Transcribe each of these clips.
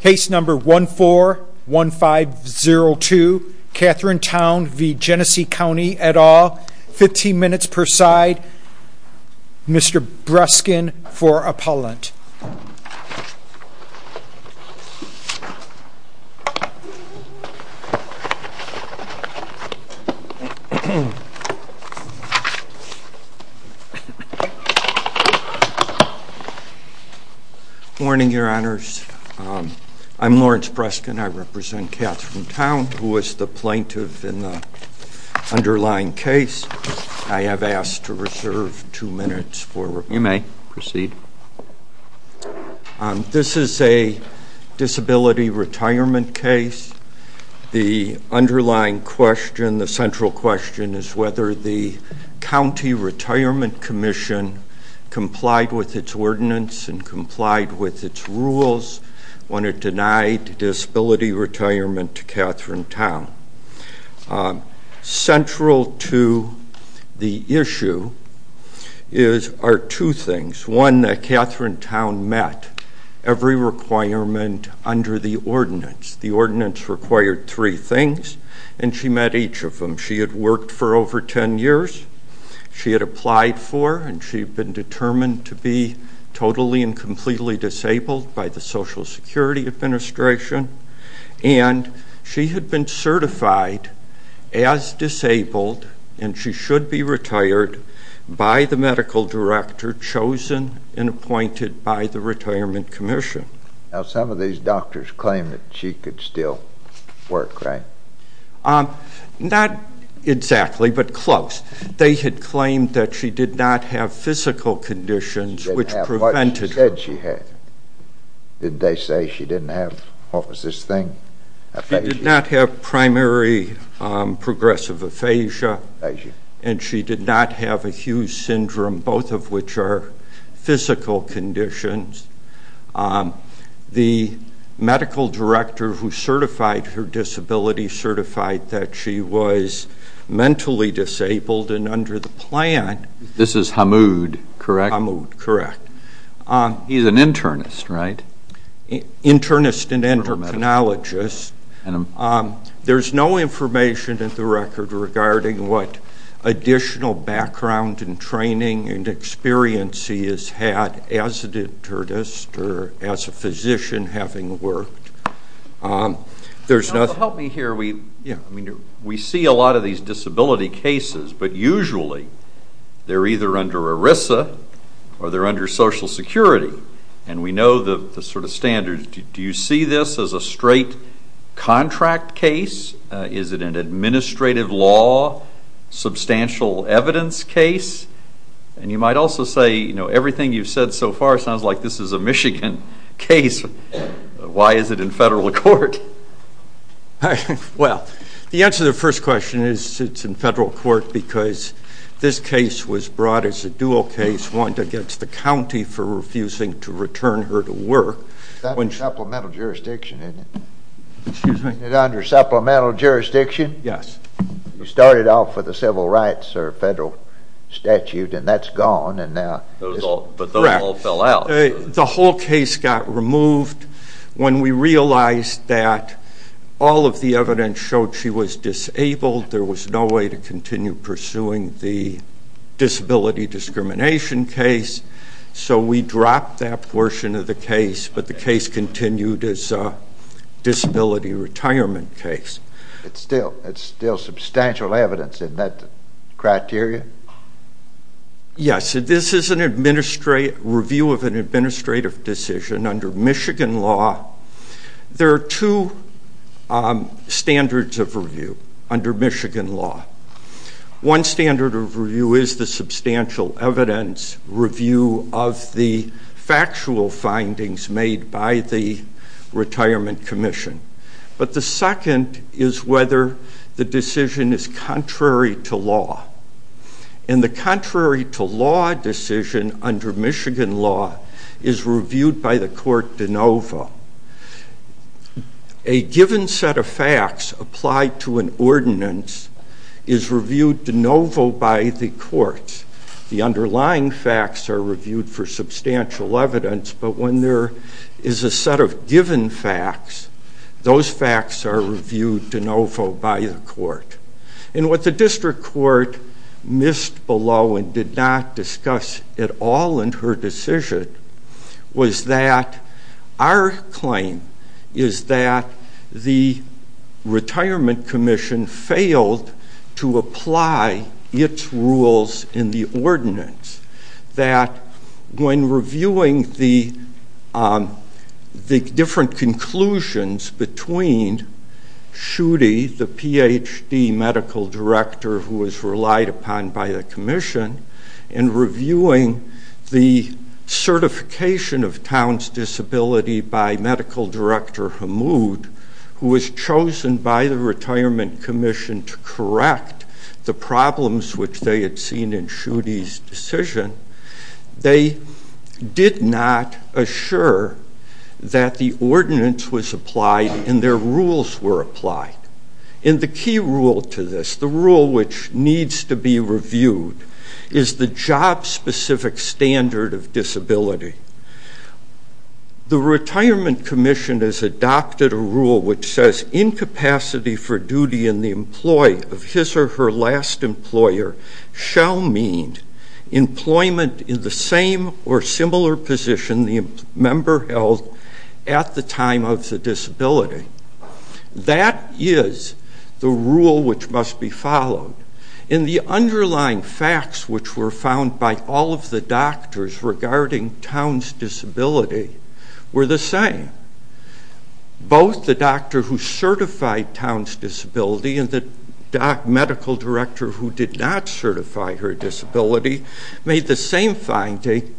Case number 141502 Catherine Town v. Genesee County et al. 15 minutes per side. Mr. Breskin for appellant. Good morning, your honors. I'm Lawrence Breskin. I represent Catherine Town, who was the plaintiff in the underlying case. I have asked to reserve two minutes for review. You may proceed. This is a disability retirement case. The underlying question, the central question, is whether the County Retirement Commission complied with its ordinance and complied with its rules when it denied disability retirement to Catherine Town. Central to the issue are two things. One, that Catherine Town met every requirement under the ordinance. The ordinance required three things, and she met each of them. She had worked for over ten years. She had applied for, and she had been determined to be totally and completely disabled by the Social Security Administration. And she had been certified as disabled, and she should be retired by the medical director chosen and appointed by the Retirement Commission. Now some of these doctors claim that she could still work, right? Not exactly, but close. They had claimed that she did not have physical conditions which prevented her. She didn't have what she said she had. Did they say she didn't have, what was this thing, aphasia? She did not have primary progressive aphasia, and she did not have a Hughes syndrome, both of which are physical conditions. The medical director who certified her disability certified that she was mentally disabled and under the plan. This is Hamoud, correct? Hamoud, correct. He's an internist, right? Internist and endocrinologist. There's no information in the record regarding what additional background and training and experience he has had as an internist or as a physician having worked. Help me here. We see a lot of these disability cases, but usually they're either under ERISA or they're under Social Security. And we know the sort of standards. Do you see this as a straight contract case? Is it an administrative law, substantial evidence case? And you might also say, you know, everything you've said so far sounds like this is a Michigan case. Why is it in federal court? Well, the answer to the first question is it's in federal court because this case was brought as a dual case, one against the county for refusing to return her to work. That's under supplemental jurisdiction, isn't it? Excuse me? Is it under supplemental jurisdiction? Yes. You started off with a civil rights or federal statute, and that's gone. But those all fell out. The whole case got removed when we realized that all of the evidence showed she was disabled. There was no way to continue pursuing the disability discrimination case. So we dropped that portion of the case, but the case continued as a disability retirement case. It's still substantial evidence in that criteria? Yes. This is a review of an administrative decision under Michigan law. There are two standards of review under Michigan law. One standard of review is the substantial evidence review of the factual findings made by the Retirement Commission. But the second is whether the decision is contrary to law. And the contrary to law decision under Michigan law is reviewed by the court de novo. A given set of facts applied to an ordinance is reviewed de novo by the courts. The underlying facts are reviewed for substantial evidence, but when there is a set of given facts, those facts are reviewed de novo by the court. And what the district court missed below and did not discuss at all in her decision was that our claim is that the Retirement Commission failed to apply its rules in the ordinance. That when reviewing the different conclusions between Schutte, the Ph.D. medical director who was relied upon by the commission, and reviewing the certification of town's disability by medical director Hamoud, who was chosen by the Retirement Commission to correct the problems which they had seen in Schutte's decision, they did not assure that the ordinance was applied and their rules were applied. And the key rule to this, the rule which needs to be reviewed, is the job-specific standard of disability. The Retirement Commission has adopted a rule which says incapacity for duty in the employee of his or her last employer shall mean employment in the same or similar position the member held at the time of the disability. That is the rule which must be followed. And the underlying facts which were found by all of the doctors regarding town's disability were the same. Both the doctor who certified town's disability and the medical director who did not certify her disability made the same finding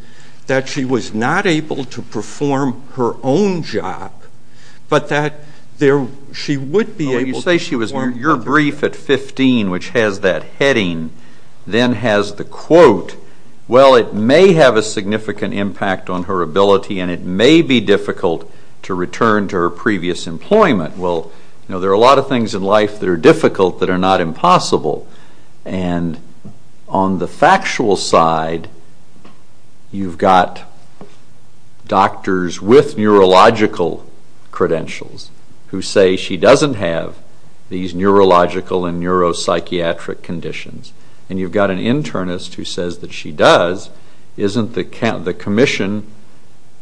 that she was not able to perform her own job, but that she would be able to perform... Well, you say she was... your brief at 15, which has that heading, then has the quote, well, it may have a significant impact on her ability and it may be difficult to return to her previous employment. Well, you know, there are a lot of things in life that are difficult that are not impossible. And on the factual side, you've got doctors with neurological credentials who say she doesn't have these neurological and neuropsychiatric conditions. And you've got an internist who says that she does. Isn't the Commission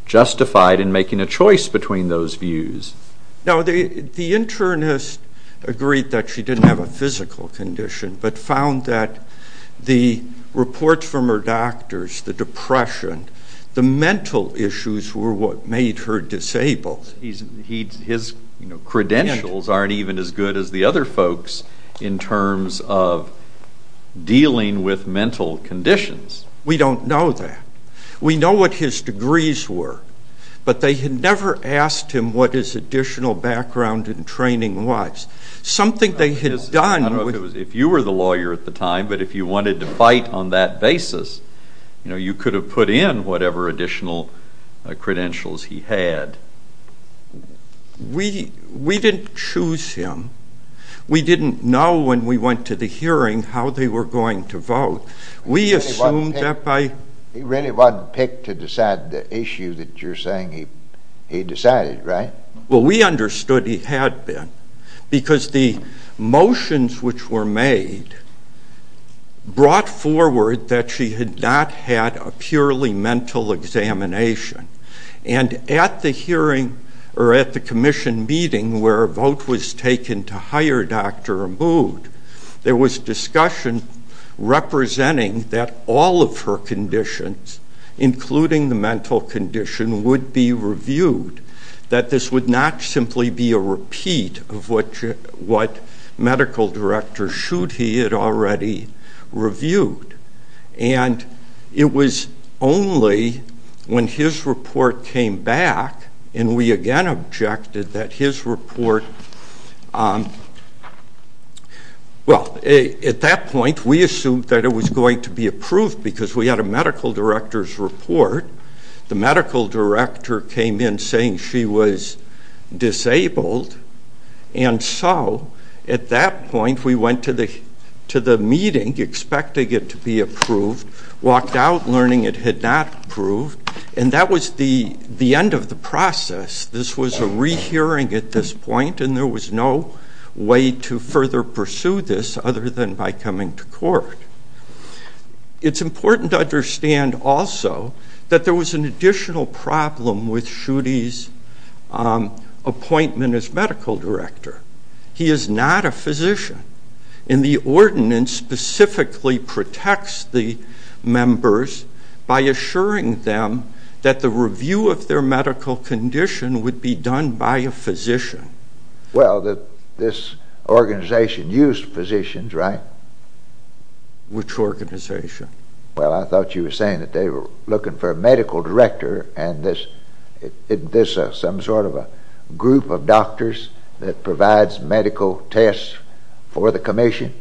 justified in making a choice between those views? Now, the internist agreed that she didn't have a physical condition, but found that the reports from her doctors, the depression, the mental issues were what made her disabled. His credentials aren't even as good as the other folks in terms of dealing with mental conditions. We don't know that. We know what his degrees were, but they had never asked him what his additional background in training was. Something they had done... I don't know if you were the lawyer at the time, but if you wanted to fight on that basis, you could have put in whatever additional credentials he had. We didn't choose him. We didn't know when we went to the hearing how they were going to vote. We assumed that by... He really wasn't picked to decide the issue that you're saying he decided, right? Well, we understood he had been, because the motions which were made brought forward that she had not had a purely mental examination. And at the hearing, or at the Commission meeting where a vote was taken to hire a doctor removed, there was discussion representing that all of her conditions, including the mental condition, would be reviewed, that this would not simply be a repeat of what medical directors should he had already reviewed. And it was only when his report came back, and we again objected that his report... Well, at that point, we assumed that it was going to be approved because we had a medical director's report. The medical director came in saying she was disabled. And so, at that point, we went to the meeting expecting it to be approved, walked out learning it had not approved, and that was the end of the process. This was a rehearing at this point, and there was no way to further pursue this other than by coming to court. It's important to understand also that there was an additional problem with Schuette's appointment as medical director. He is not a physician, and the ordinance specifically protects the members by assuring them that the review of their medical condition would be done by a physician. Well, this organization used physicians, right? Which organization? Well, I thought you were saying that they were looking for a medical director, and isn't this some sort of a group of doctors that provides medical tests for the commission?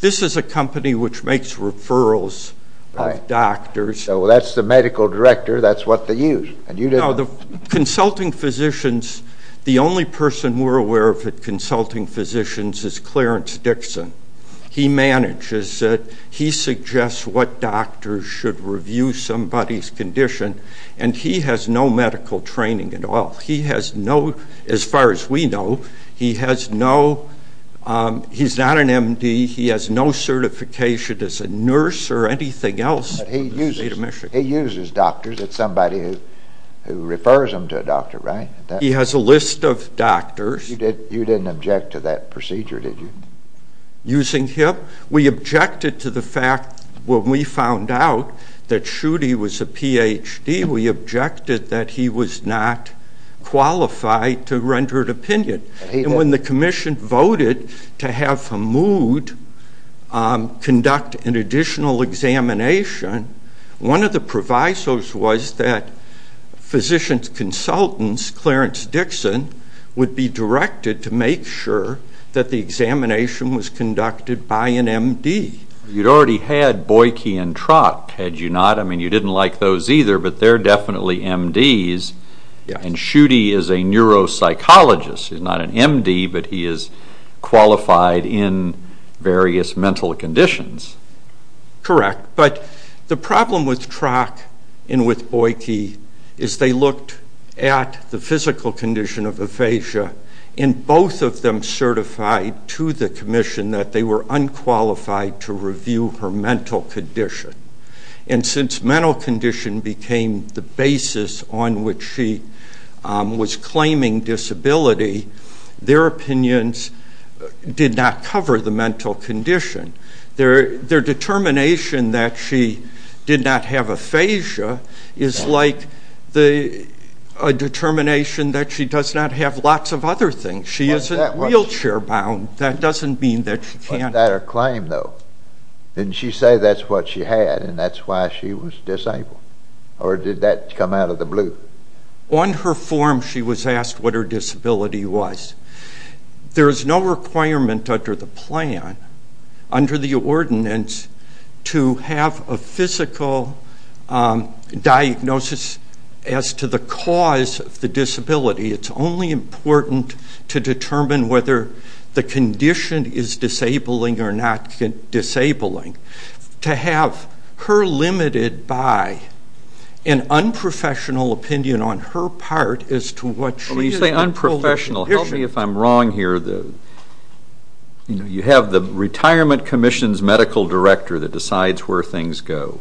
This is a company which makes referrals of doctors. So that's the medical director, that's what they used. No, the consulting physicians, the only person we're aware of at consulting physicians is Clarence Dixon. He manages it. He suggests what doctors should review somebody's condition, and he has no medical training at all. He has no, as far as we know, he has no, he's not an M.D., he has no certification as a nurse or anything else. But he uses doctors, it's somebody who refers them to a doctor, right? He has a list of doctors. You didn't object to that procedure, did you? Using him? We objected to the fact when we found out that Schuette was a Ph.D., we objected that he was not qualified to render an opinion. And when the commission voted to have Hamoud conduct an additional examination, one of the provisos was that physicians' consultants, Clarence Dixon, would be directed to make sure that the examination was conducted by an M.D. You'd already had Boyke and Trock, had you not? I mean, you didn't like those either, but they're definitely M.D.s. And Schuette is a neuropsychologist. He's not an M.D., but he is qualified in various mental conditions. Correct, but the problem with Trock and with Boyke is they looked at the physical condition of aphasia, and both of them certified to the commission that they were unqualified to review her mental condition. And since mental condition became the basis on which she was claiming disability, their opinions did not cover the mental condition. Their determination that she did not have aphasia is like a determination that she does not have lots of other things. She isn't wheelchair-bound. That doesn't mean that she can't. If she had that claim, though, didn't she say that's what she had and that's why she was disabled, or did that come out of the blue? On her form, she was asked what her disability was. There is no requirement under the plan, under the ordinance, to have a physical diagnosis as to the cause of the disability. It's only important to determine whether the condition is disabling or not disabling. To have her limited by an unprofessional opinion on her part as to what she is. When you say unprofessional, help me if I'm wrong here. You have the Retirement Commission's medical director that decides where things go.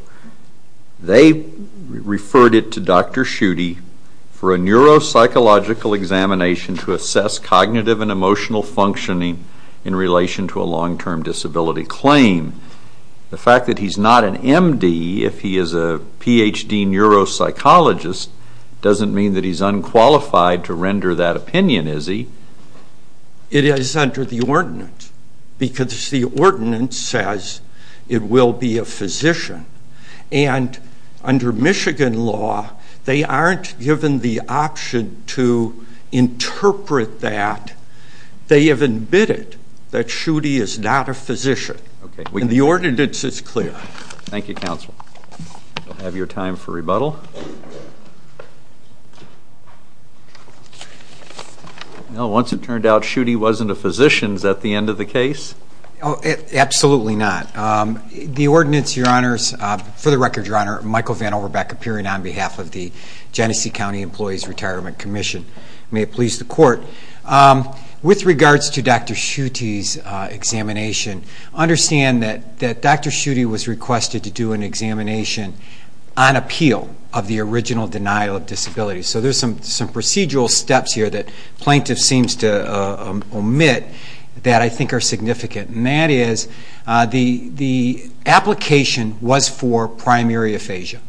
They referred it to Dr. Schutte for a neuropsychological examination to assess cognitive and emotional functioning in relation to a long-term disability claim. The fact that he's not an M.D., if he is a Ph.D. neuropsychologist, doesn't mean that he's unqualified to render that opinion, is he? It is under the ordinance. Because the ordinance says it will be a physician. And under Michigan law, they aren't given the option to interpret that. They have admitted that Schutte is not a physician. And the ordinance is clear. Thank you, Counsel. We'll have your time for rebuttal. Once it turned out Schutte wasn't a physician, is that the end of the case? Absolutely not. The ordinance, Your Honors, for the record, Your Honor, Michael Van Overbeck appearing on behalf of the Genesee County Employees Retirement Commission. May it please the Court. With regards to Dr. Schutte's examination, understand that Dr. Schutte was requested to do an examination on appeal of the original denial of disability. So there's some procedural steps here that plaintiff seems to omit that I think are significant. And that is the application was for primary aphasia,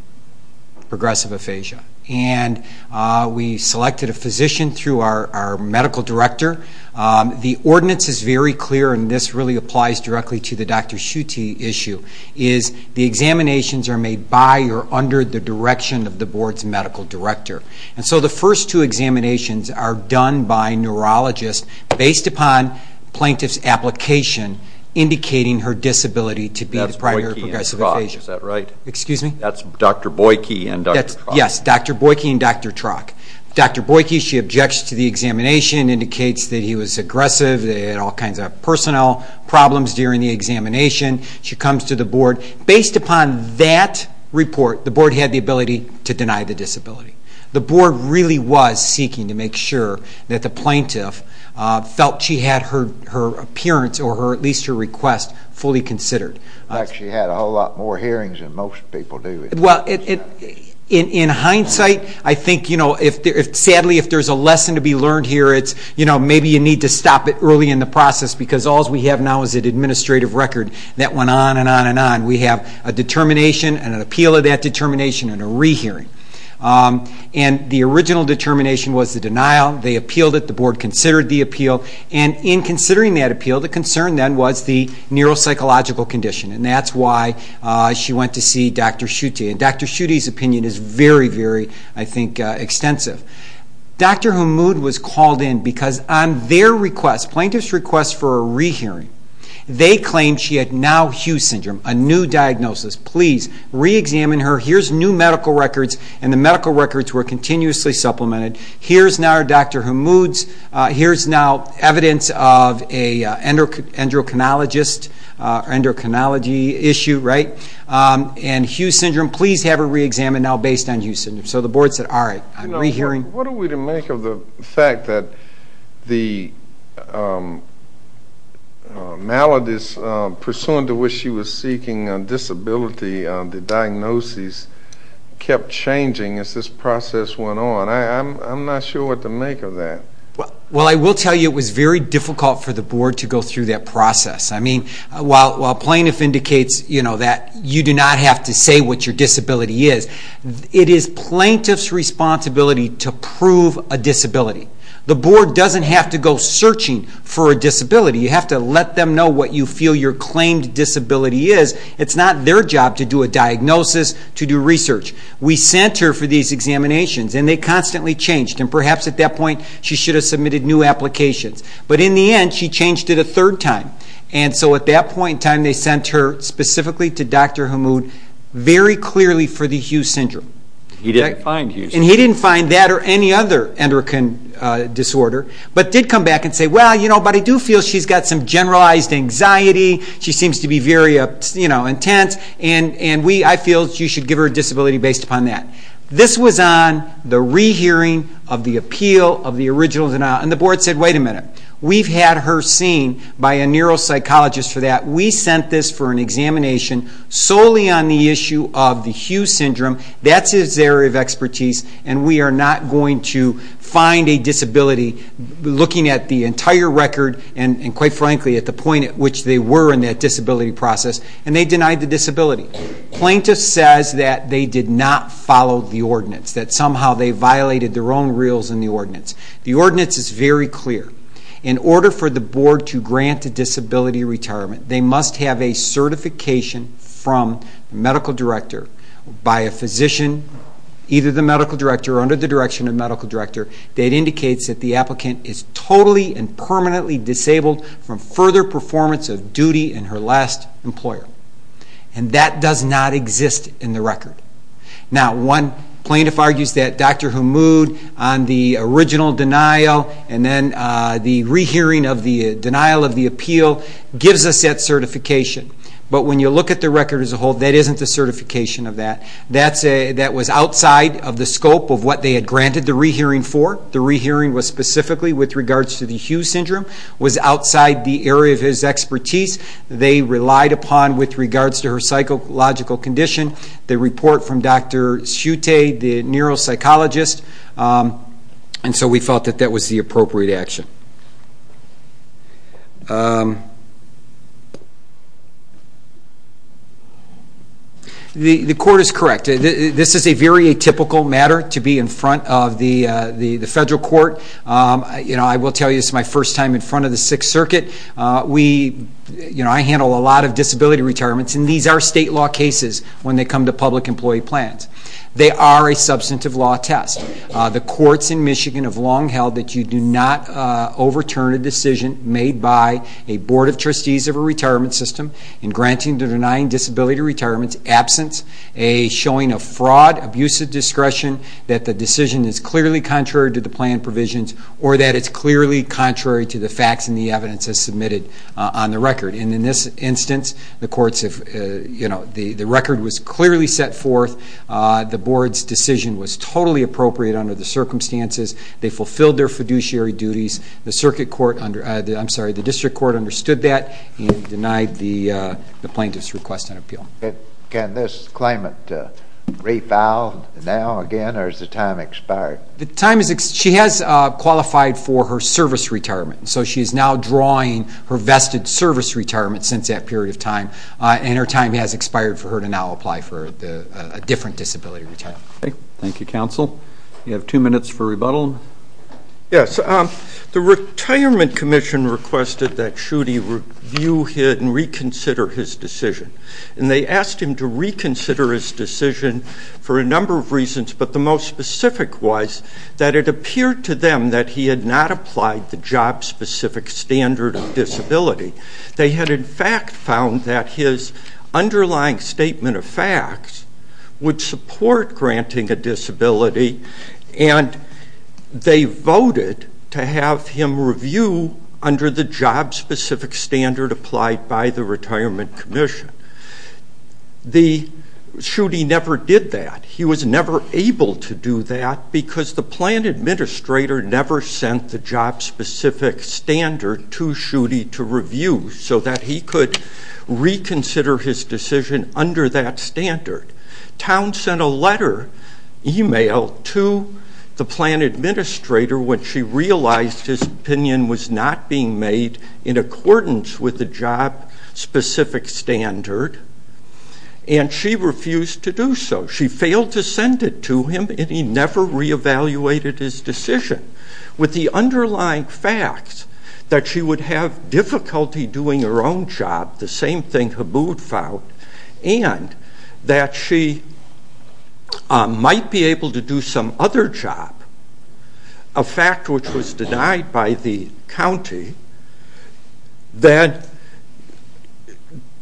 progressive aphasia. And we selected a physician through our medical director. The ordinance is very clear, and this really applies directly to the Dr. Schutte issue, is the examinations are made by or under the direction of the board's medical director. And so the first two examinations are done by neurologists based upon plaintiff's application indicating her disability to be the primary progressive aphasia. That's Boyke and Trock, is that right? Excuse me? That's Dr. Boyke and Dr. Trock. Yes, Dr. Boyke and Dr. Trock. Dr. Boyke, she objects to the examination, indicates that he was aggressive, that he had all kinds of personnel problems during the examination. She comes to the board. Based upon that report, the board had the ability to deny the disability. The board really was seeking to make sure that the plaintiff felt she had her appearance or at least her request fully considered. In fact, she had a whole lot more hearings than most people do. Well, in hindsight, I think, sadly, if there's a lesson to be learned here, it's maybe you need to stop it early in the process because all we have now is an administrative record that went on and on and on. We have a determination and an appeal of that determination and a rehearing. And the original determination was the denial. They appealed it. The board considered the appeal. And in considering that appeal, the concern then was the neuropsychological condition, and that's why she went to see Dr. Schutte. And Dr. Schutte's opinion is very, very, I think, extensive. Dr. Hamoud was called in because on their request, the plaintiff's request for a rehearing, they claimed she had now Hugh's syndrome, a new diagnosis. Please reexamine her. Here's new medical records, and the medical records were continuously supplemented. Here's now Dr. Hamoud's. Here's now evidence of an endocrinology issue. And Hugh's syndrome, please have her reexamined now based on Hugh's syndrome. So the board said, all right, I'm rehearing. What are we to make of the fact that the maladies, pursuant to which she was seeking a disability, the diagnosis kept changing as this process went on? I'm not sure what to make of that. Well, I will tell you it was very difficult for the board to go through that process. I mean, while plaintiff indicates that you do not have to say what your disability is, it is plaintiff's responsibility to prove a disability. The board doesn't have to go searching for a disability. You have to let them know what you feel your claimed disability is. It's not their job to do a diagnosis, to do research. We sent her for these examinations, and they constantly changed. And perhaps at that point she should have submitted new applications. But in the end, she changed it a third time. And so at that point in time, they sent her specifically to Dr. Hammoud very clearly for the Hugh syndrome. He didn't find Hugh's syndrome. And he didn't find that or any other endocrine disorder, but did come back and say, well, you know, but I do feel she's got some generalized anxiety. She seems to be very intense, and I feel you should give her a disability based upon that. This was on the rehearing of the appeal of the original denial. And the board said, wait a minute. We've had her seen by a neuropsychologist for that. We sent this for an examination solely on the issue of the Hugh syndrome. That's his area of expertise, and we are not going to find a disability looking at the entire record and, quite frankly, at the point at which they were in that disability process. And they denied the disability. Plaintiff says that they did not follow the ordinance, that somehow they violated their own rules in the ordinance. The ordinance is very clear. In order for the board to grant a disability retirement, they must have a certification from the medical director by a physician, either the medical director or under the direction of the medical director, that indicates that the applicant is totally and permanently disabled from further performance of duty in her last employer. And that does not exist in the record. Now, one plaintiff argues that Dr. Hamoud, on the original denial and then the re-hearing of the denial of the appeal, gives us that certification. But when you look at the record as a whole, that isn't the certification of that. That was outside of the scope of what they had granted the re-hearing for. The re-hearing was specifically with regards to the Hugh syndrome, was outside the area of his expertise. They relied upon, with regards to her psychological condition, the report from Dr. Schutte, the neuropsychologist. And so we felt that that was the appropriate action. The court is correct. This is a very atypical matter to be in front of the federal court. I will tell you this is my first time in front of the Sixth Circuit. I handle a lot of disability retirements, and these are state law cases when they come to public employee plans. They are a substantive law test. The courts in Michigan have long held that you do not overturn a decision made by a board of trustees of a retirement system in granting the denying disability retirements absence, showing a fraud, abusive discretion, that the decision is clearly contrary to the plan provisions or that it's clearly contrary to the facts and the evidence as submitted on the record. In this instance, the record was clearly set forth. The board's decision was totally appropriate under the circumstances. They fulfilled their fiduciary duties. The district court understood that and denied the plaintiff's request on appeal. Can this claimant refile now, again, or has the time expired? She has qualified for her service retirement, so she is now drawing her vested service retirement since that period of time, and her time has expired for her to now apply for a different disability retirement. Okay. Thank you, counsel. We have two minutes for rebuttal. Yes. The Retirement Commission requested that Schuette review and reconsider his decision, and they asked him to reconsider his decision for a number of reasons, but the most specific was that it appeared to them that he had not applied the job-specific standard of disability. They had, in fact, found that his underlying statement of facts would support granting a disability, and they voted to have him review under the job-specific standard applied by the Retirement Commission. Schuette never did that. He was never able to do that because the plan administrator never sent the job-specific standard to Schuette to review so that he could reconsider his decision under that standard. Towne sent a letter, email, to the plan administrator when she realized his opinion was not being made in accordance with the job-specific standard, and she refused to do so. She failed to send it to him, and he never reevaluated his decision. With the underlying facts that she would have difficulty doing her own job, the same thing Habood found, and that she might be able to do some other job, a fact which was denied by the county, that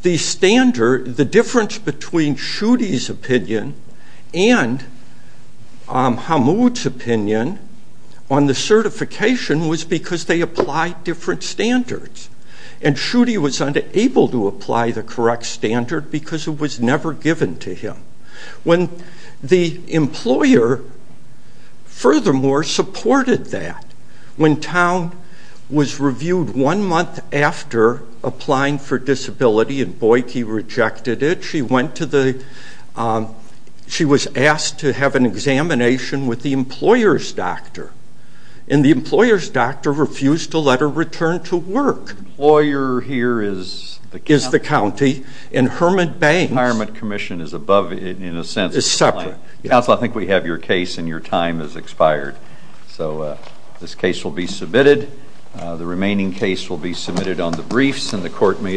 the difference between Schuette's opinion and Habood's opinion on the certification was because they applied different standards, and Schuette was unable to apply the correct standard because it was never given to him. The employer, furthermore, supported that. When Towne was reviewed one month after applying for disability and Boydkey rejected it, she was asked to have an examination with the employer's doctor, and the employer's doctor refused to let her return to work. The employer here is the county? Is the county, and Herman Banks... The retirement commission is above, in a sense... Is separate. Counsel, I think we have your case, and your time has expired. So this case will be submitted. The remaining case will be submitted on the briefs, and the clerk may adjourn.